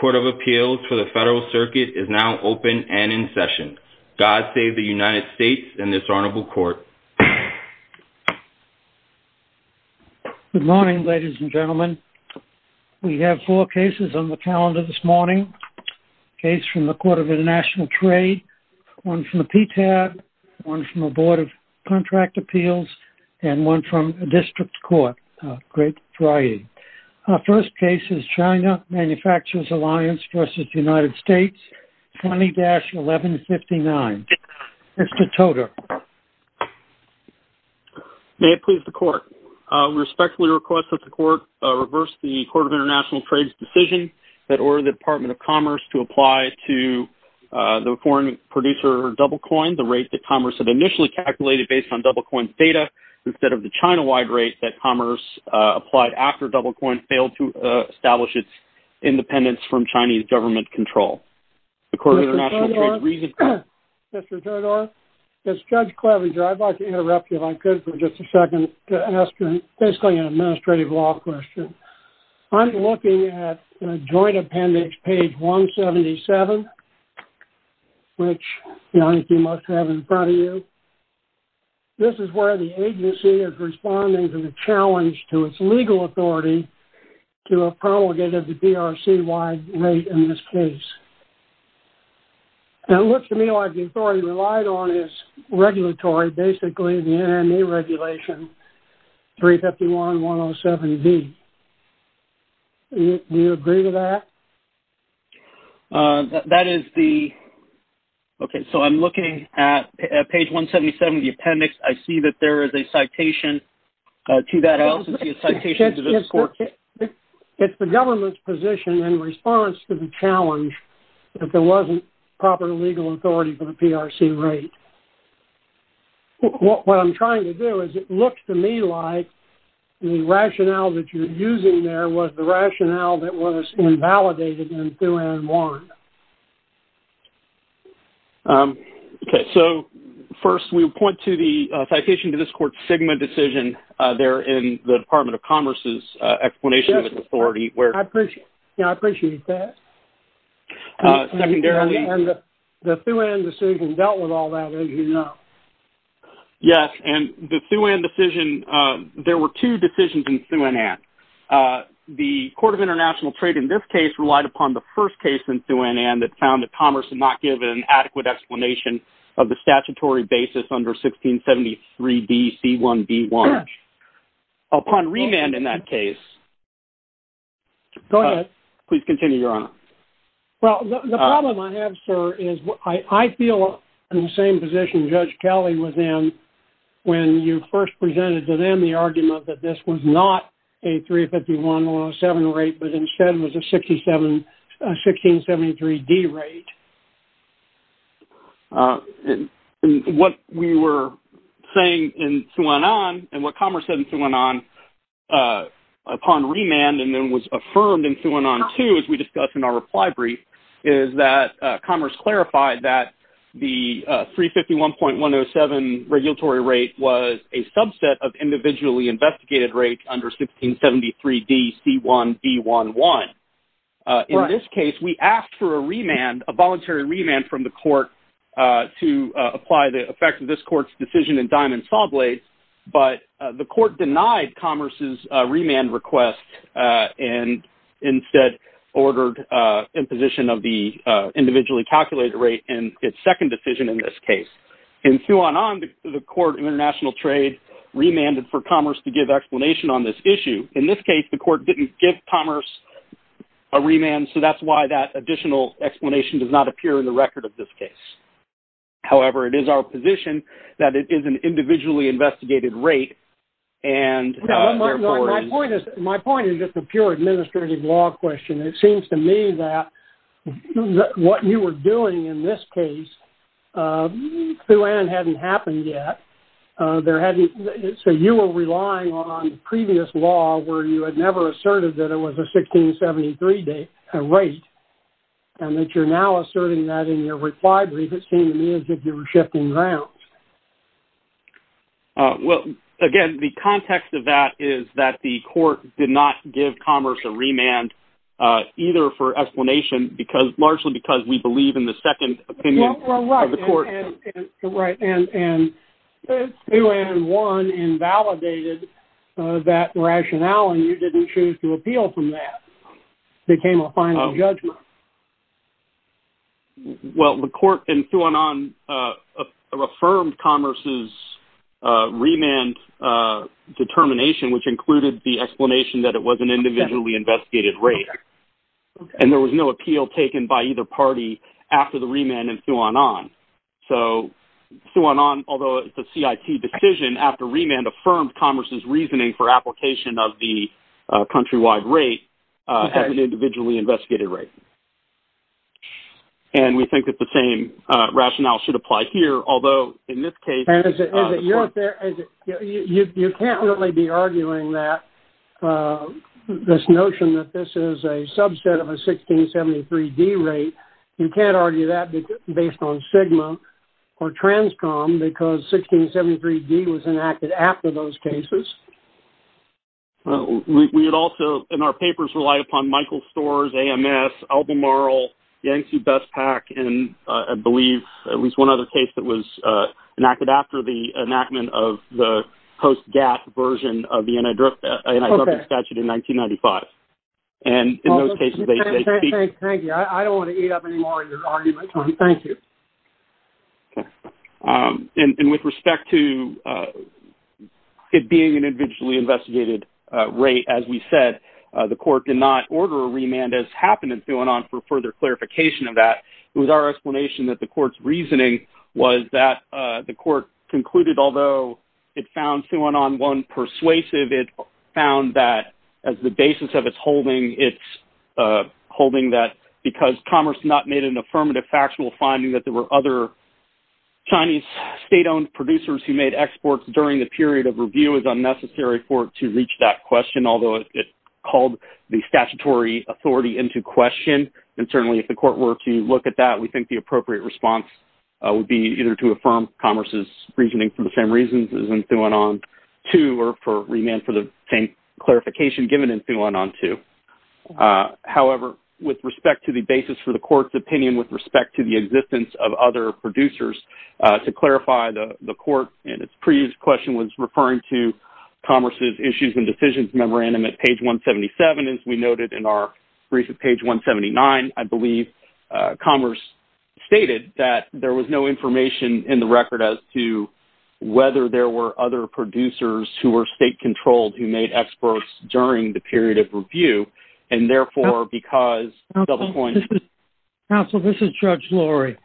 Court of Appeals for the Federal Circuit is now open and in session. God save the United States and this honorable court. Good morning ladies and gentlemen. We have four cases on the calendar this morning. A case from the Court of International Trade, one from the Federal Circuit. Our first case is China Manufacturers Alliance v. United States, 20-1159. Mr. Todor. May it please the court. We respectfully request that the court reverse the Court of International Trade's decision that ordered the Department of Commerce to apply to the foreign producer DoubleCoin the rate that Commerce had initially calculated based on DoubleCoin's data instead of the China-wide rate that Commerce applied after DoubleCoin failed to establish its independence from Chinese government control. Mr. Todor, as Judge Clevenger, I'd like to interrupt you if I could for just a second to ask you basically an administrative law question. I'm looking at joint appendix page 177, which you must have in front of you. This is where the agency is responding to the challenge to its legal authority to have promulgated the DRC-wide rate in this case. It looks to me like the authority relied on is regulatory, basically the NME regulation, 351-107-V. Do you agree to that? That is the... Okay, so I'm looking at page 177 of the appendix. I see that there is a citation to that else. It's the government's position in response to the challenge that there wasn't proper legal authority for the PRC rate. What I'm trying to do is it looks to me like the rationale that you're using there was the rationale that was invalidated in 2N1. Okay, so first we would point to the citation to this court's SGMA decision there in the Department of Commerce's explanation of its authority where... Yes, I appreciate that. Secondarily... And the 2N decision dealt with all that, as you know. Yes, and the 2N decision, there were two decisions in 2NN. The Court of International Trade in this case relied upon the first case in 2NN that found that Commerce had not given an adequate explanation of the statutory basis under 1673-B-C1-B1. Upon remand in that case... Go ahead. Please continue, Your Honor. Well, the problem I have, sir, is I feel in the same position Judge Kelly was in when you first presented to them the argument that this was not a 351-107 rate, but instead was a 1673-D rate. What we were saying in 2NN and what Commerce said in 2NN upon remand and then was affirmed in 2N2, as we discussed in our reply brief, is that Commerce clarified that the 351.107 regulatory rate was a subset of individually investigated rates under 1673-D-C1-B1-1. Right. Now, in this case, we asked for a remand, a voluntary remand from the court to apply the effect of this court's decision in Diamond Sawblades, but the court denied Commerce's remand request and instead ordered imposition of the individually calculated rate in its second decision in this case. In 2NN, the court in International Trade remanded for Commerce to give explanation on this issue. In this case, the court didn't give Commerce a remand, so that's why that additional explanation does not appear in the record of this case. However, it is our position that it is an individually investigated rate and, therefore... My point is just a pure administrative law question. It seems to me that what you were doing in this case, 2NN hadn't happened yet, so you were relying on previous law where you had never asserted that it was a 1673-D rate and that you're now asserting that in your reply brief. It seemed to me as if you were shifting grounds. Well, again, the context of that is that the court did not give Commerce a remand either for explanation, largely because we believe in the second opinion of the court. Right, and 2N1 invalidated that rationale and you didn't choose to appeal from that. It became a final judgment. Well, the court in 2N1 affirmed Commerce's remand determination, which included the explanation that it was an individually investigated rate. And there was no appeal taken by either party after the remand in 2N1. So, 2N1, although it's a CIT decision, after remand affirmed Commerce's reasoning for application of the countrywide rate as an individually investigated rate. And we think that the same rationale should apply here, although in this case... ...or Transcom, because 1673-D was enacted after those cases. We had also, in our papers, relied upon Michael Storrs, AMS, Albemarle, Yankee Best Pack, and I believe at least one other case that was enacted after the enactment of the post-GATT version of the anti-drug statute in 1995. And in those cases, they... Thank you. I don't want to eat up any more of your argument. Thank you. And with respect to it being an individually investigated rate, as we said, the court did not order a remand, as happened in 2N1, for further clarification of that. It was our explanation that the court's reasoning was that the court concluded, although it found 2N1 persuasive, it found that as the basis of its holding, it's holding that because Commerce not made an affirmative factual finding that there were other Chinese state-owned producers who made exports during the period of review, it was unnecessary for it to reach that question, although it called the statutory authority into question. And certainly, if the court were to look at that, we think the appropriate response would be either to affirm Commerce's reasoning for the same reasons as in 2N1-2 or for remand for the same clarification given in 2N1-2. However, with respect to the basis for the court's opinion with respect to the existence of other producers, to clarify, the court in its previous question was referring to Commerce's issues and decisions memorandum at page 177. As we noted in our brief at page 179, I believe Commerce stated that there was no information in the record as to whether there were other producers who were state-controlled who made exports during the period of review, and therefore, because... Counsel, this is Judge Laurie.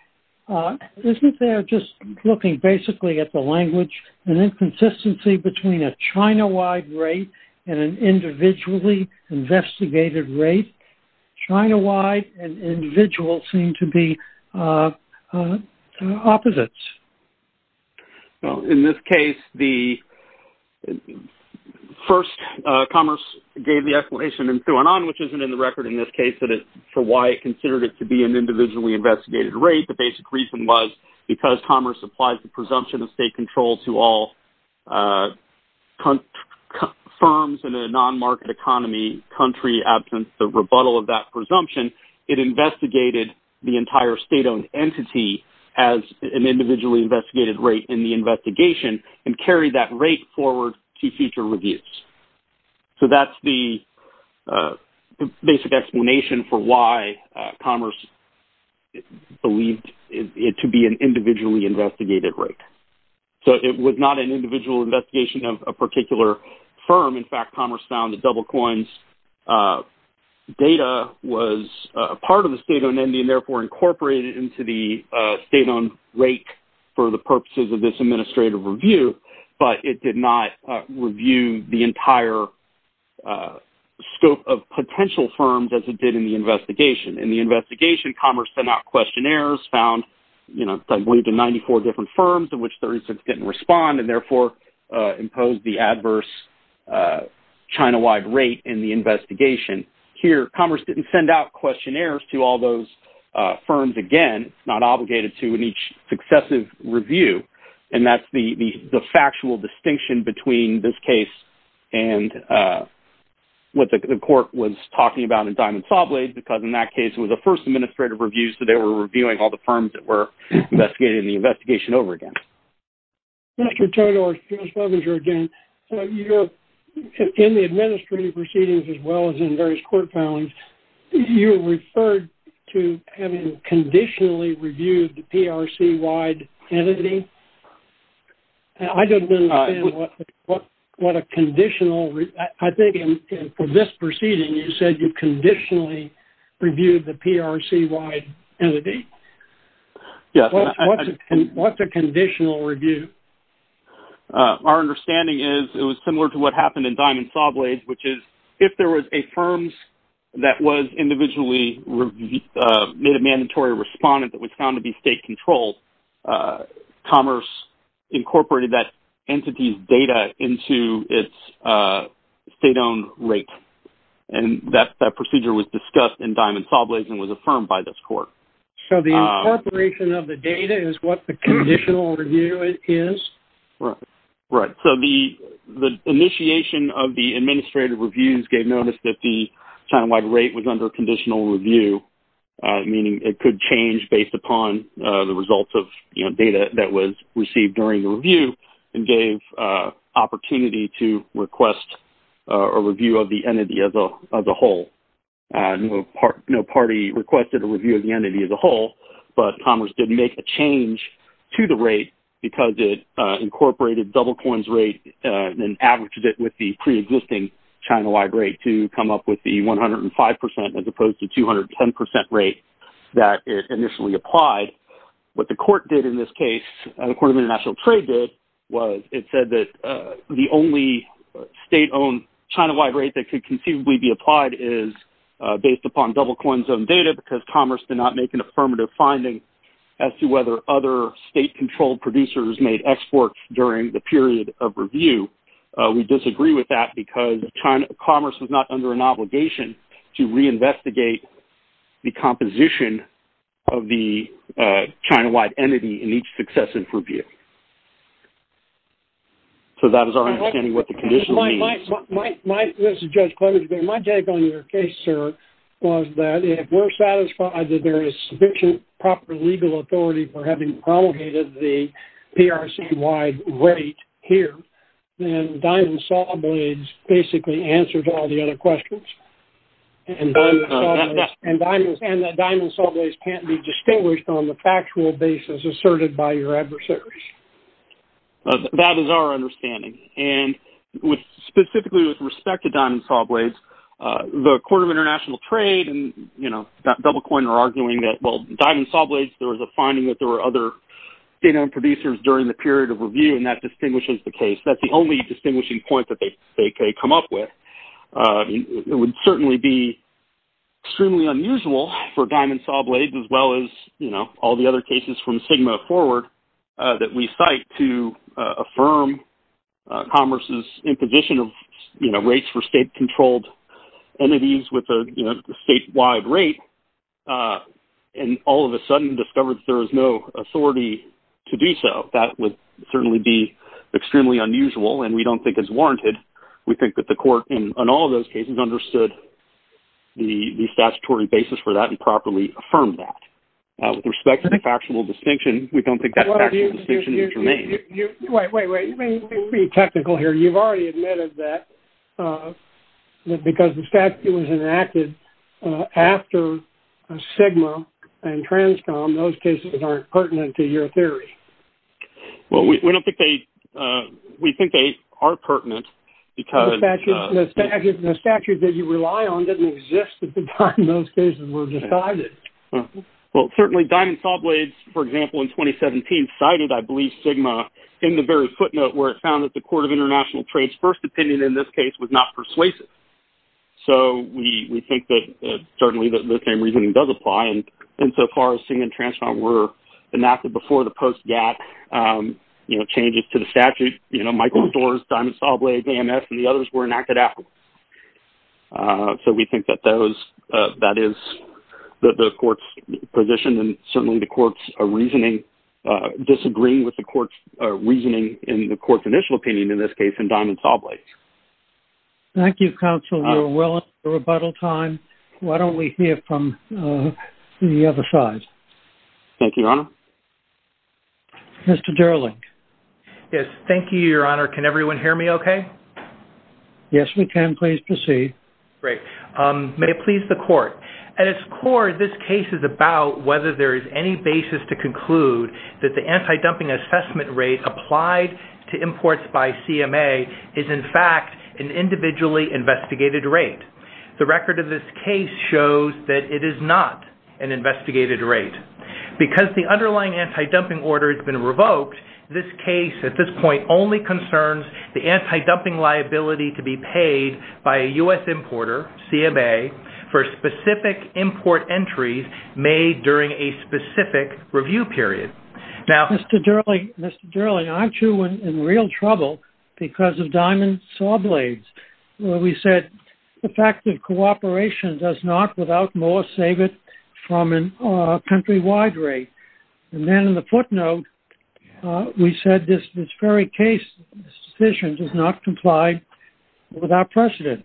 Isn't there just looking basically at the language, an inconsistency between a China-wide rate and an individually investigated rate? China-wide and individual seem to be opposites. In this case, the... First, Commerce gave the explanation in 2N1, which isn't in the record in this case, for why it considered it to be an individually investigated rate. The basic reason was because Commerce applies the presumption of state control to all firms in a non-market economy, country absent the rebuttal of that presumption. It investigated the entire state-owned entity as an individually investigated rate in the investigation and carried that rate forward to future reviews. So, that's the basic explanation for why Commerce believed it to be an individually investigated rate. So, it was not an individual investigation of a particular firm. In fact, Commerce found that DoubleCoin's data was a part of the state-owned entity and, therefore, incorporated into the state-owned rate for the purposes of this administrative review, but it did not review the entire scope of potential firms as it did in the investigation. In the investigation, Commerce sent out questionnaires, found, I believe, to 94 different firms, of which 36 didn't respond, and, therefore, imposed the adverse China-wide rate in the investigation. Here, Commerce didn't send out questionnaires to all those firms again. It's not obligated to in each successive review. And that's the factual distinction between this case and what the court was talking about in Diamond Sawblade because, in that case, it was the first administrative review, so they were reviewing all the firms that were investigated in the investigation over again. Mr. Turner or Ms. Lovinger again, in the administrative proceedings, as well as in various court filings, you referred to having conditionally reviewed the PRC-wide entity. I don't understand what a conditional... I think, for this proceeding, you said you conditionally reviewed the PRC-wide entity. What's a conditional review? Our understanding is it was similar to what happened in Diamond Sawblade, which is, if there was a firm that was individually made a mandatory respondent that was found to be state-controlled, Commerce incorporated that entity's data into its state-owned rate. And that procedure was discussed in Diamond Sawblade and was affirmed by this court. So, the incorporation of the data is what the conditional review is? Right. So, the initiation of the administrative reviews gave notice that the China-wide rate was under conditional review, meaning it could change based upon the results of data that was received during the review and gave opportunity to request a review of the entity as a whole. No party requested a review of the entity as a whole, but Commerce did make a change to the rate because it incorporated DoubleCoin's rate and averaged it with the pre-existing China-wide rate to come up with the 105% as opposed to 210% rate that initially applied. What the court did in this case, the Court of International Trade did, was it said that the only state-owned China-wide rate that could conceivably be applied is based upon DoubleCoin's own data because Commerce did not make an affirmative finding as to whether other state-controlled producers made exports during the period of review. We disagree with that because Commerce was not under an obligation to reinvestigate the composition of the China-wide entity in each successive review. So, that is our understanding of what the conditional means. My take on your case, sir, was that if we're satisfied that there is sufficient proper legal authority for having promulgated the PRC-wide rate here, then Diamond Saw Blades basically answers all the other questions. And that Diamond Saw Blades can't be distinguished on the factual basis asserted by your adversaries. That is our understanding. Specifically with respect to Diamond Saw Blades, the Court of International Trade and DoubleCoin are arguing that Diamond Saw Blades, there was a finding that there were other state-owned producers during the period of review and that distinguishes the case. That's the only distinguishing point that they come up with. It would certainly be extremely unusual for Diamond Saw Blades as well as all the other cases from Sigma forward that we cite to affirm Commerce's imposition of rates for state-controlled entities with a state-wide rate and all of a sudden discover that there is no authority to do so. That would certainly be extremely unusual and we don't think it's warranted. We think that the Court in all of those cases understood the statutory basis for that and properly affirmed that. With respect to the factual distinction, we don't think that factual distinction is germane. Wait, wait, wait. Let me be technical here. You've already admitted that because the statute was enacted after Sigma and Transcom, those cases aren't pertinent to your theory. Well, we don't think they – we think they are pertinent because… The statute that you rely on doesn't exist at the time those cases were decided. Well, certainly Diamond Saw Blades, for example, in 2017 cited, I believe, Sigma in the very footnote where it found that the Court of International Trade's first opinion in this case was not persuasive. So, we think that certainly the same reasoning does apply. And so far, Sigma and Transcom were enacted before the post-GATT changes to the statute. Michael Storrs, Diamond Saw Blades, AMS, and the others were enacted afterwards. So, we think that that is the Court's position and certainly the Court's reasoning, disagreeing with the Court's reasoning in the Court's initial opinion in this case in Diamond Saw Blades. Thank you, Counsel. We are well into rebuttal time. Why don't we hear from the other side? Thank you, Your Honor. Mr. Derling. Yes. Thank you, Your Honor. Can everyone hear me okay? Yes, we can. Pleased to see. Great. May it please the Court. At its core, this case is about whether there is any basis to conclude that the anti-dumping assessment rate applied to imports by CMA is, in fact, an individually investigated rate. The record of this case shows that it is not an investigated rate. Because the underlying anti-dumping order has been revoked, this case, at this point, only concerns the anti-dumping liability to be paid by a U.S. importer, CMA, for specific import entries made during a specific review period. Mr. Derling, aren't you in real trouble because of Diamond Saw Blades, where we said the fact that cooperation does not, without more, save it from a countrywide rate? And then in the footnote, we said this very case, this decision, does not comply with our precedent.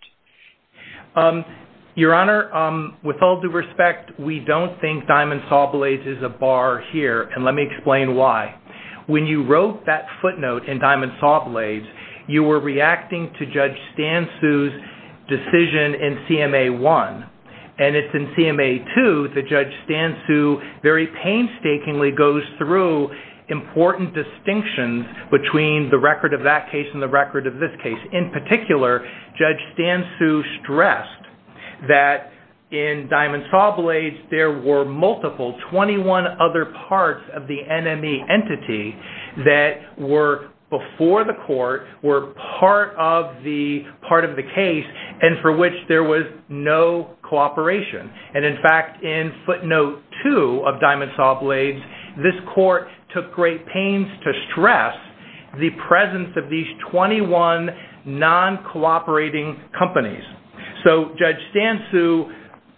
Your Honor, with all due respect, we don't think Diamond Saw Blades is a bar here, and let me explain why. When you wrote that footnote in Diamond Saw Blades, you were reacting to Judge Stansu's decision in CMA 1. And it's in CMA 2 that Judge Stansu very painstakingly goes through important distinctions between the record of that case and the record of this case. In particular, Judge Stansu stressed that in Diamond Saw Blades, there were multiple, 21 other parts of the NME entity that were before the court, were part of the case, and for which there was no cooperation. And in fact, in footnote 2 of Diamond Saw Blades, this court took great pains to stress the presence of these 21 non-cooperating companies. So Judge Stansu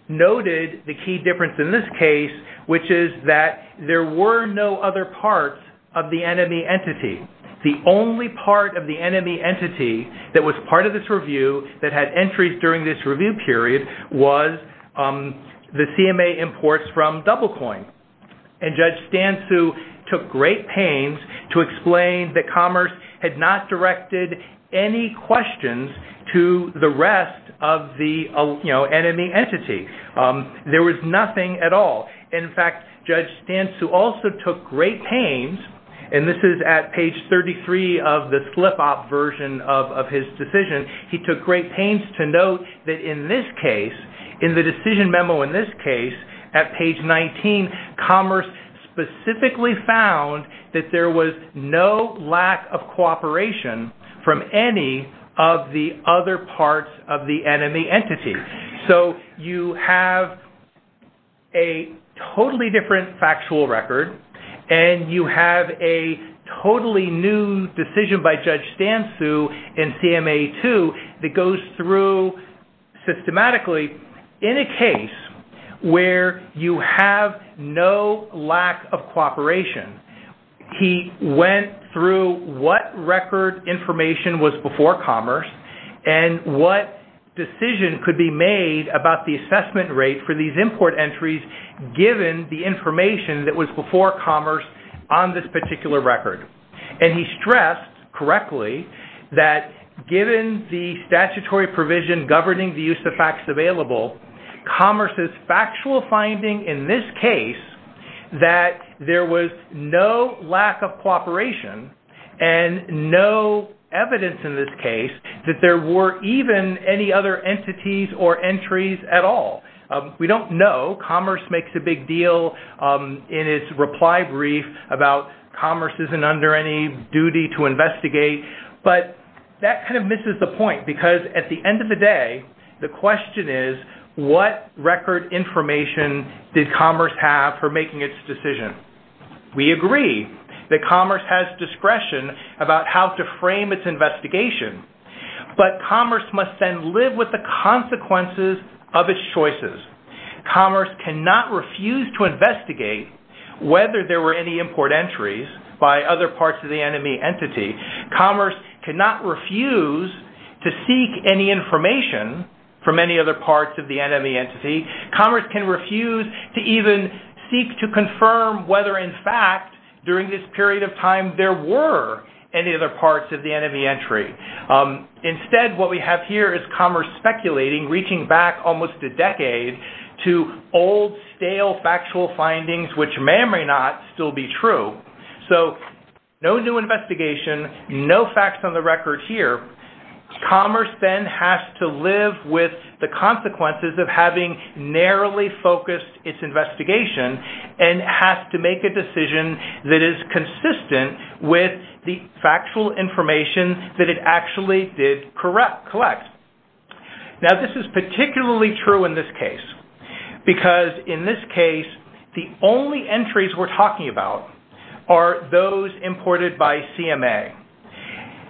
noted the key difference in this case, which is that there were no other parts of the NME entity. The only part of the NME entity that was part of this review, that had entries during this review period, was the CMA imports from DoubleCoin. And Judge Stansu took great pains to explain that Commerce had not directed any questions to the rest of the NME entity. There was nothing at all. In fact, Judge Stansu also took great pains, and this is at page 33 of the slip-op version of his decision, he took great pains to note that in this case, in the decision memo in this case, at page 19, Commerce specifically found that there was no lack of cooperation from any of the other parts of the NME entity. So you have a totally different factual record, and you have a totally new decision by Judge Stansu in CMA 2 that goes through systematically in a case where you have no lack of cooperation. He went through what record information was before Commerce, and what decision could be made about the assessment rate for these import entries given the information that was before Commerce on this particular record. And he stressed correctly that given the statutory provision governing the use of facts available, Commerce's factual finding in this case that there was no lack of cooperation and no evidence in this case that there were even any other entities or entries at all. We don't know. Commerce makes a big deal in its reply brief about Commerce isn't under any duty to investigate, but that kind of misses the point because at the end of the day, the question is what record information did Commerce have for making its decision? We agree that Commerce has discretion about how to frame its investigation, but Commerce must then live with the consequences of its choices. Commerce cannot refuse to investigate whether there were any import entries by other parts of the NME entity. Commerce cannot refuse to seek any information from any other parts of the NME entity. Commerce can refuse to even seek to confirm whether in fact during this period of time there were any other parts of the NME entry. Instead, what we have here is Commerce speculating, reaching back almost a decade to old, stale factual findings which may or may not still be true. So, no new investigation, no facts on the record here. Commerce then has to live with the consequences of having narrowly focused its investigation and has to make a decision that is consistent with the factual information that it actually did collect. Now, this is particularly true in this case because in this case the only entries we're talking about are those imported by CMA.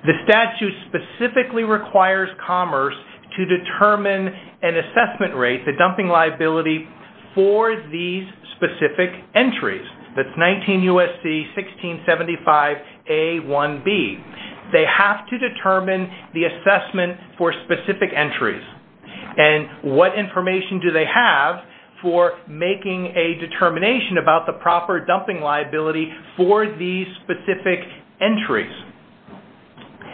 The statute specifically requires Commerce to determine an assessment rate, the dumping liability, for these specific entries. That's 19 U.S.C. 1675 A1B. They have to determine the assessment for specific entries and what information do they have for making a determination about the proper dumping liability for these specific entries.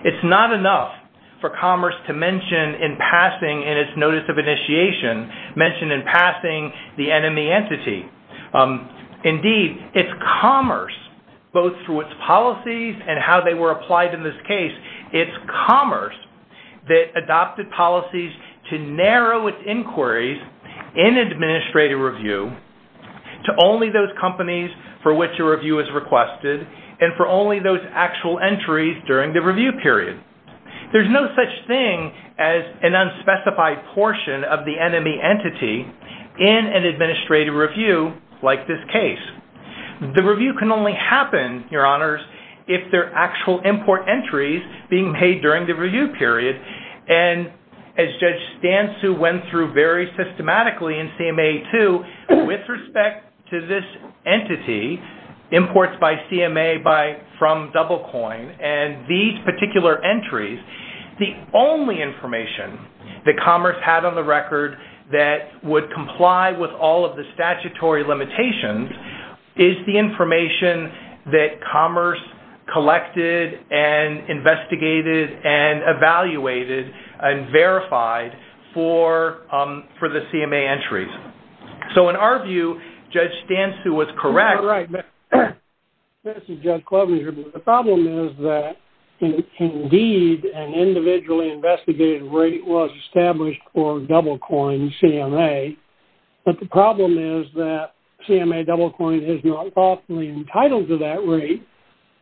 It's not enough for Commerce to mention in passing in its notice of initiation, mention in passing the NME entity. Indeed, it's Commerce, both through its policies and how they were applied in this case, it's Commerce that adopted policies to narrow its inquiries in administrative review to only those companies for which a review is requested and for only those actual entries during the review period. There's no such thing as an unspecified portion of the NME entity in an administrative review like this case. The review can only happen, Your Honors, if there are actual import entries being made during the review period. And as Judge Stansu went through very systematically in CMA 2, with respect to this entity, imports by CMA from DoubleCoin and these particular entries, the only information that Commerce had on the record that would comply with all of the statutory limitations is the information that Commerce collected and investigated and evaluated and verified for the CMA entries. So in our view, Judge Stansu was correct. This is Judge Klobuchar. The problem is that, indeed, an individually investigated rate was established for DoubleCoin CMA. But the problem is that CMA DoubleCoin is not lawfully entitled to that rate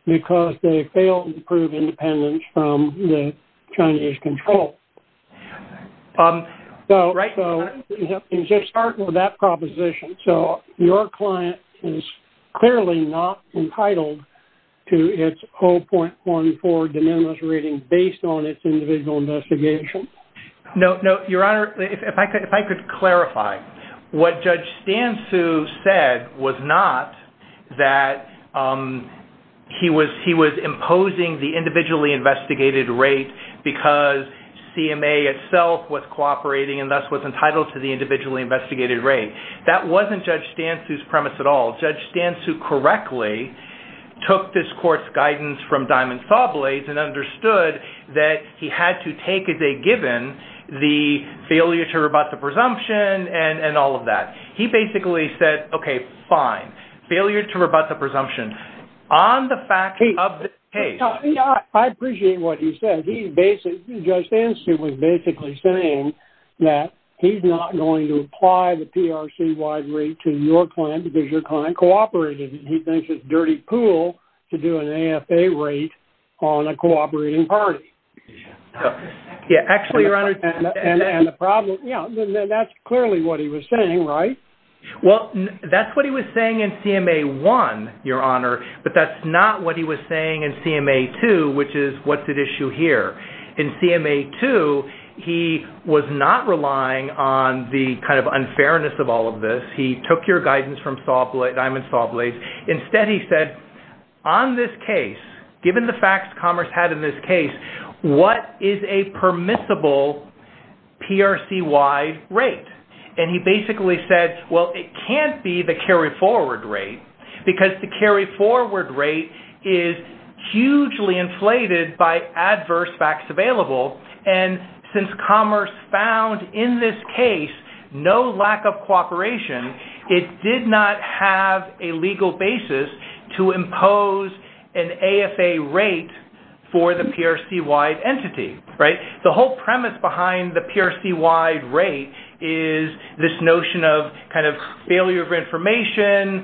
because they failed to prove independence from the Chinese control. So you have to start with that proposition. So your client is clearly not entitled to its 0.14 de minimis rating based on its individual investigation? No, Your Honor, if I could clarify, what Judge Stansu said was not that he was imposing the individually investigated rate because CMA itself was cooperating and thus was entitled to the individually investigated rate. That wasn't Judge Stansu's premise at all. Judge Stansu correctly took this court's guidance from Diamond Sawblades and understood that he had to take as a given the failure to rebut the presumption and all of that. He basically said, okay, fine, failure to rebut the presumption on the fact of the case. I appreciate what he said. Judge Stansu was basically saying that he's not going to apply the PRC-wide rate to your client because your client cooperated and he thinks it's a dirty pool to do an AFA rate on a cooperating party. Actually, Your Honor, that's clearly what he was saying, right? Well, that's what he was saying in CMA 1, Your Honor, but that's not what he was saying in CMA 2, which is what's at issue here. In CMA 2, he was not relying on the kind of unfairness of all of this. He took your guidance from Diamond Sawblades. Instead, he said, on this case, given the facts Commerce had in this case, what is a permissible PRC-wide rate? He basically said, well, it can't be the carry-forward rate because the carry-forward rate is hugely inflated by adverse facts available. Since Commerce found in this case no lack of cooperation, it did not have a legal basis to impose an AFA rate for the PRC-wide entity, right? The whole premise behind the PRC-wide rate is this notion of kind of failure of information,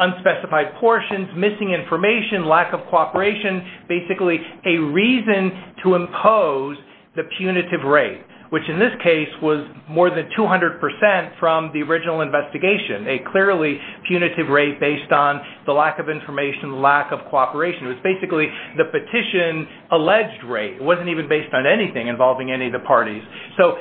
unspecified portions, missing information, lack of cooperation, basically a reason to impose the punitive rate, which in this case was more than 200% from the original investigation, a clearly punitive rate based on the lack of information, lack of cooperation. It was basically the petition-alleged rate. It wasn't even based on anything involving any of the parties. So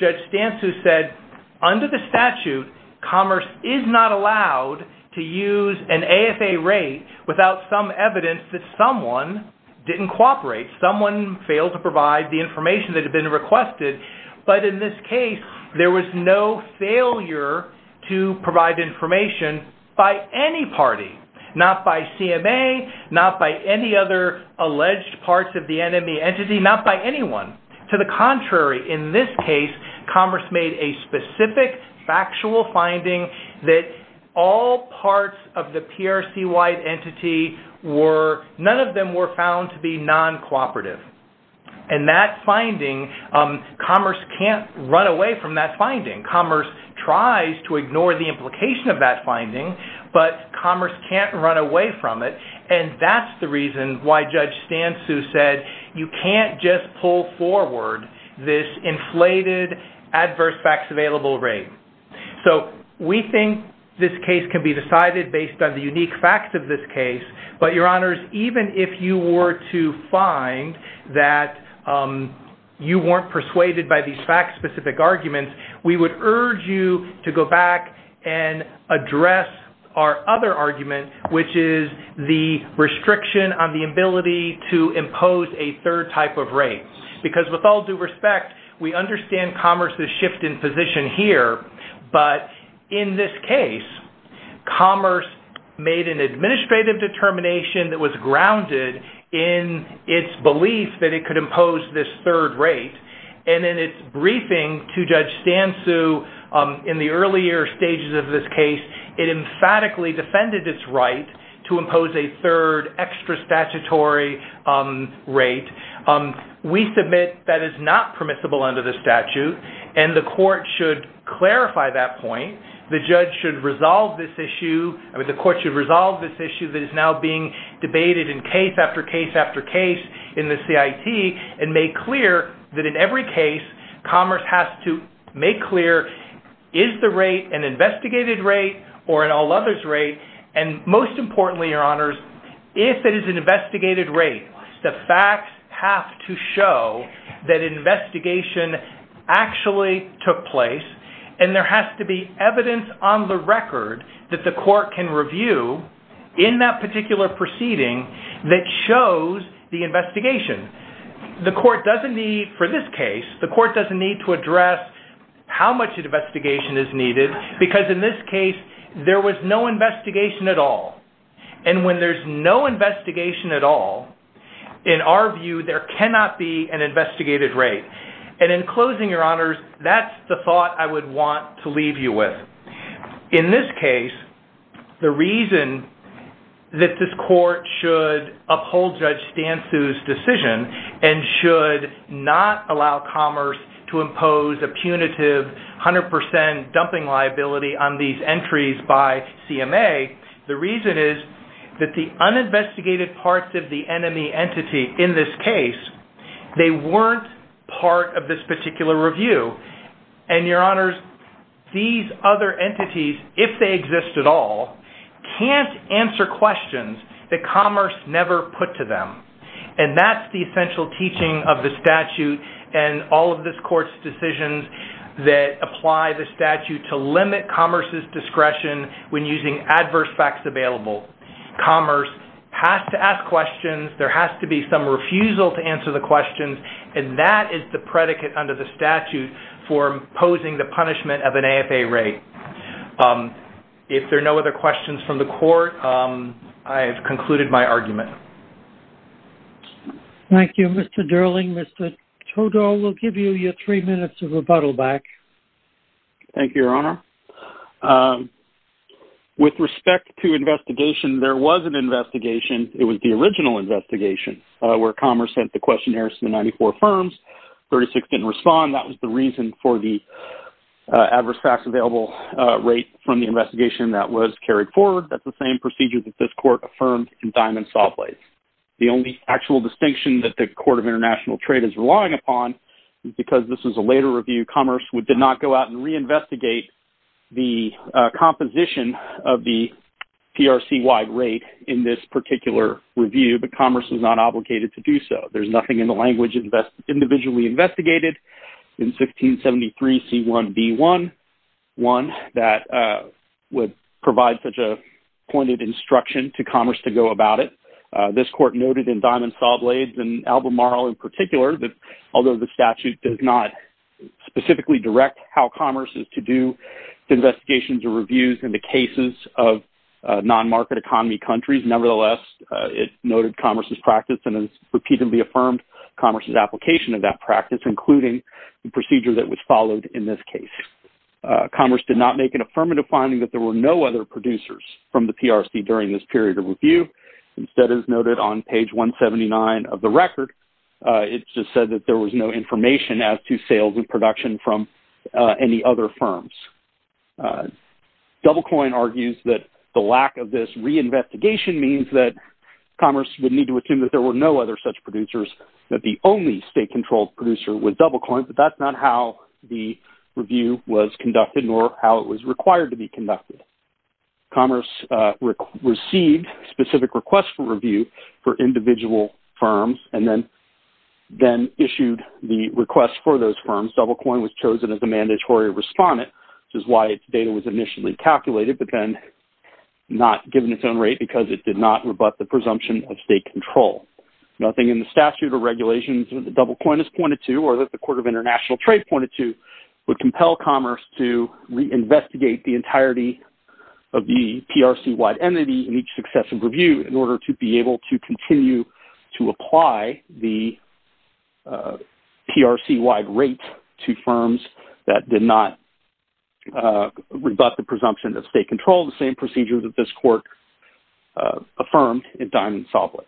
Judge Stansu said, under the statute, Commerce is not allowed to use an AFA rate without some evidence that someone didn't cooperate, someone failed to provide the information that had been requested, but in this case, there was no failure to provide information by any party, not by CMA, not by any other alleged parts of the NME entity, not by anyone. To the contrary, in this case, Commerce made a specific factual finding that all parts of the PRC-wide entity were, none of them were found to be non-cooperative. And that finding, Commerce can't run away from that finding. Commerce tries to ignore the implication of that finding, but Commerce can't run away from it, and that's the reason why Judge Stansu said you can't just pull forward this inflated adverse facts available rate. So we think this case can be decided based on the unique facts of this case, but, Your Honors, even if you were to find that you weren't persuaded by these fact-specific arguments, we would urge you to go back and address our other argument, which is the restriction on the ability to impose a third type of rate. Because with all due respect, we understand Commerce's shift in position here, but in this case, Commerce made an administrative determination that was grounded in its belief that it could impose this third rate, and in its briefing to Judge Stansu in the earlier stages of this case, it emphatically defended its right to impose a third extra statutory rate. We submit that is not permissible under the statute, and the court should clarify that point. The judge should resolve this issue. I mean, the court should resolve this issue that is now being debated in case after case after case in the CIT and make clear that in every case, Commerce has to make clear, is the rate an investigated rate or an all-others rate? And most importantly, Your Honors, if it is an investigated rate, the facts have to show that an investigation actually took place, and there has to be evidence on the record that the court can review in that particular proceeding that shows the investigation. The court doesn't need, for this case, the court doesn't need to address how much an investigation is needed, because in this case, there was no investigation at all. And when there's no investigation at all, in our view, there cannot be an investigated rate. And in closing, Your Honors, that's the thought I would want to leave you with. In this case, the reason that this court should uphold Judge Stansu's decision and should not allow Commerce to impose a punitive 100% dumping liability on these entries by CMA, the reason is that the uninvestigated parts of the NME entity in this case, they weren't part of this particular review. And Your Honors, these other entities, if they exist at all, can't answer questions that Commerce never put to them. And that's the essential teaching of the statute and all of this court's decisions that apply the statute to limit Commerce's discretion when using adverse facts available. Commerce has to ask questions, there has to be some refusal to answer the questions, and that is the predicate under the statute for imposing the punishment of an AFA rate. If there are no other questions from the court, I have concluded my argument. Thank you, Mr. Durling. Mr. Todor, we'll give you your three minutes of rebuttal back. Thank you, Your Honor. It was the original investigation where Commerce sent the questionnaires to the 94 firms. 36 didn't respond. That was the reason for the adverse facts available rate from the investigation that was carried forward. That's the same procedure that this court affirmed in Diamond Salt Lake. The only actual distinction that the Court of International Trade is relying upon, because this is a later review, Commerce did not go out and reinvestigate the composition of the PRC-wide rate in this particular review, but Commerce was not obligated to do so. There's nothing in the language individually investigated in 1673C1B1 that would provide such a pointed instruction to Commerce to go about it. This court noted in Diamond Salt Lake and Albemarle in particular, that although the statute does not specifically direct how Commerce is to do the investigations or reviews in the cases of non-market economy countries, nevertheless, it noted Commerce's practice and has repeatedly affirmed Commerce's application of that practice, including the procedure that was followed in this case. Commerce did not make an affirmative finding that there were no other producers from the PRC during this period of review. Instead, as noted on page 179 of the record, it just said that there was no information as to sales and production from any other firms. DoubleCoin argues that the lack of this reinvestigation means that Commerce would need to assume that there were no other such producers, that the only state-controlled producer was DoubleCoin, but that's not how the review was conducted nor how it was required to be conducted. Commerce received specific requests for review for individual firms and then issued the request for those firms. Of course, DoubleCoin was chosen as a mandatory respondent, which is why its data was initially calculated, but then not given its own rate because it did not rebut the presumption of state control. Nothing in the statute or regulations that DoubleCoin has pointed to or that the Court of International Trade pointed to would compel Commerce to reinvestigate the entirety of the PRC-wide entity in each successive review in order to be able to continue to apply the PRC-wide rate to firms that did not rebut the presumption of state control, the same procedure that this Court affirmed in Diamond-Soblick.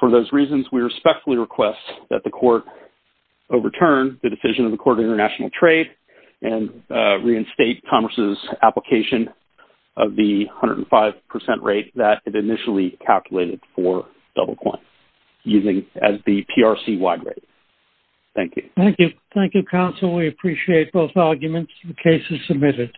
For those reasons, we respectfully request that the Court overturn the decision of the Court of International Trade and reinstate Commerce's application of the 105% rate that it initially calculated for DoubleCoin as the PRC-wide rate. Thank you. Thank you, counsel. We appreciate both arguments. The case is submitted.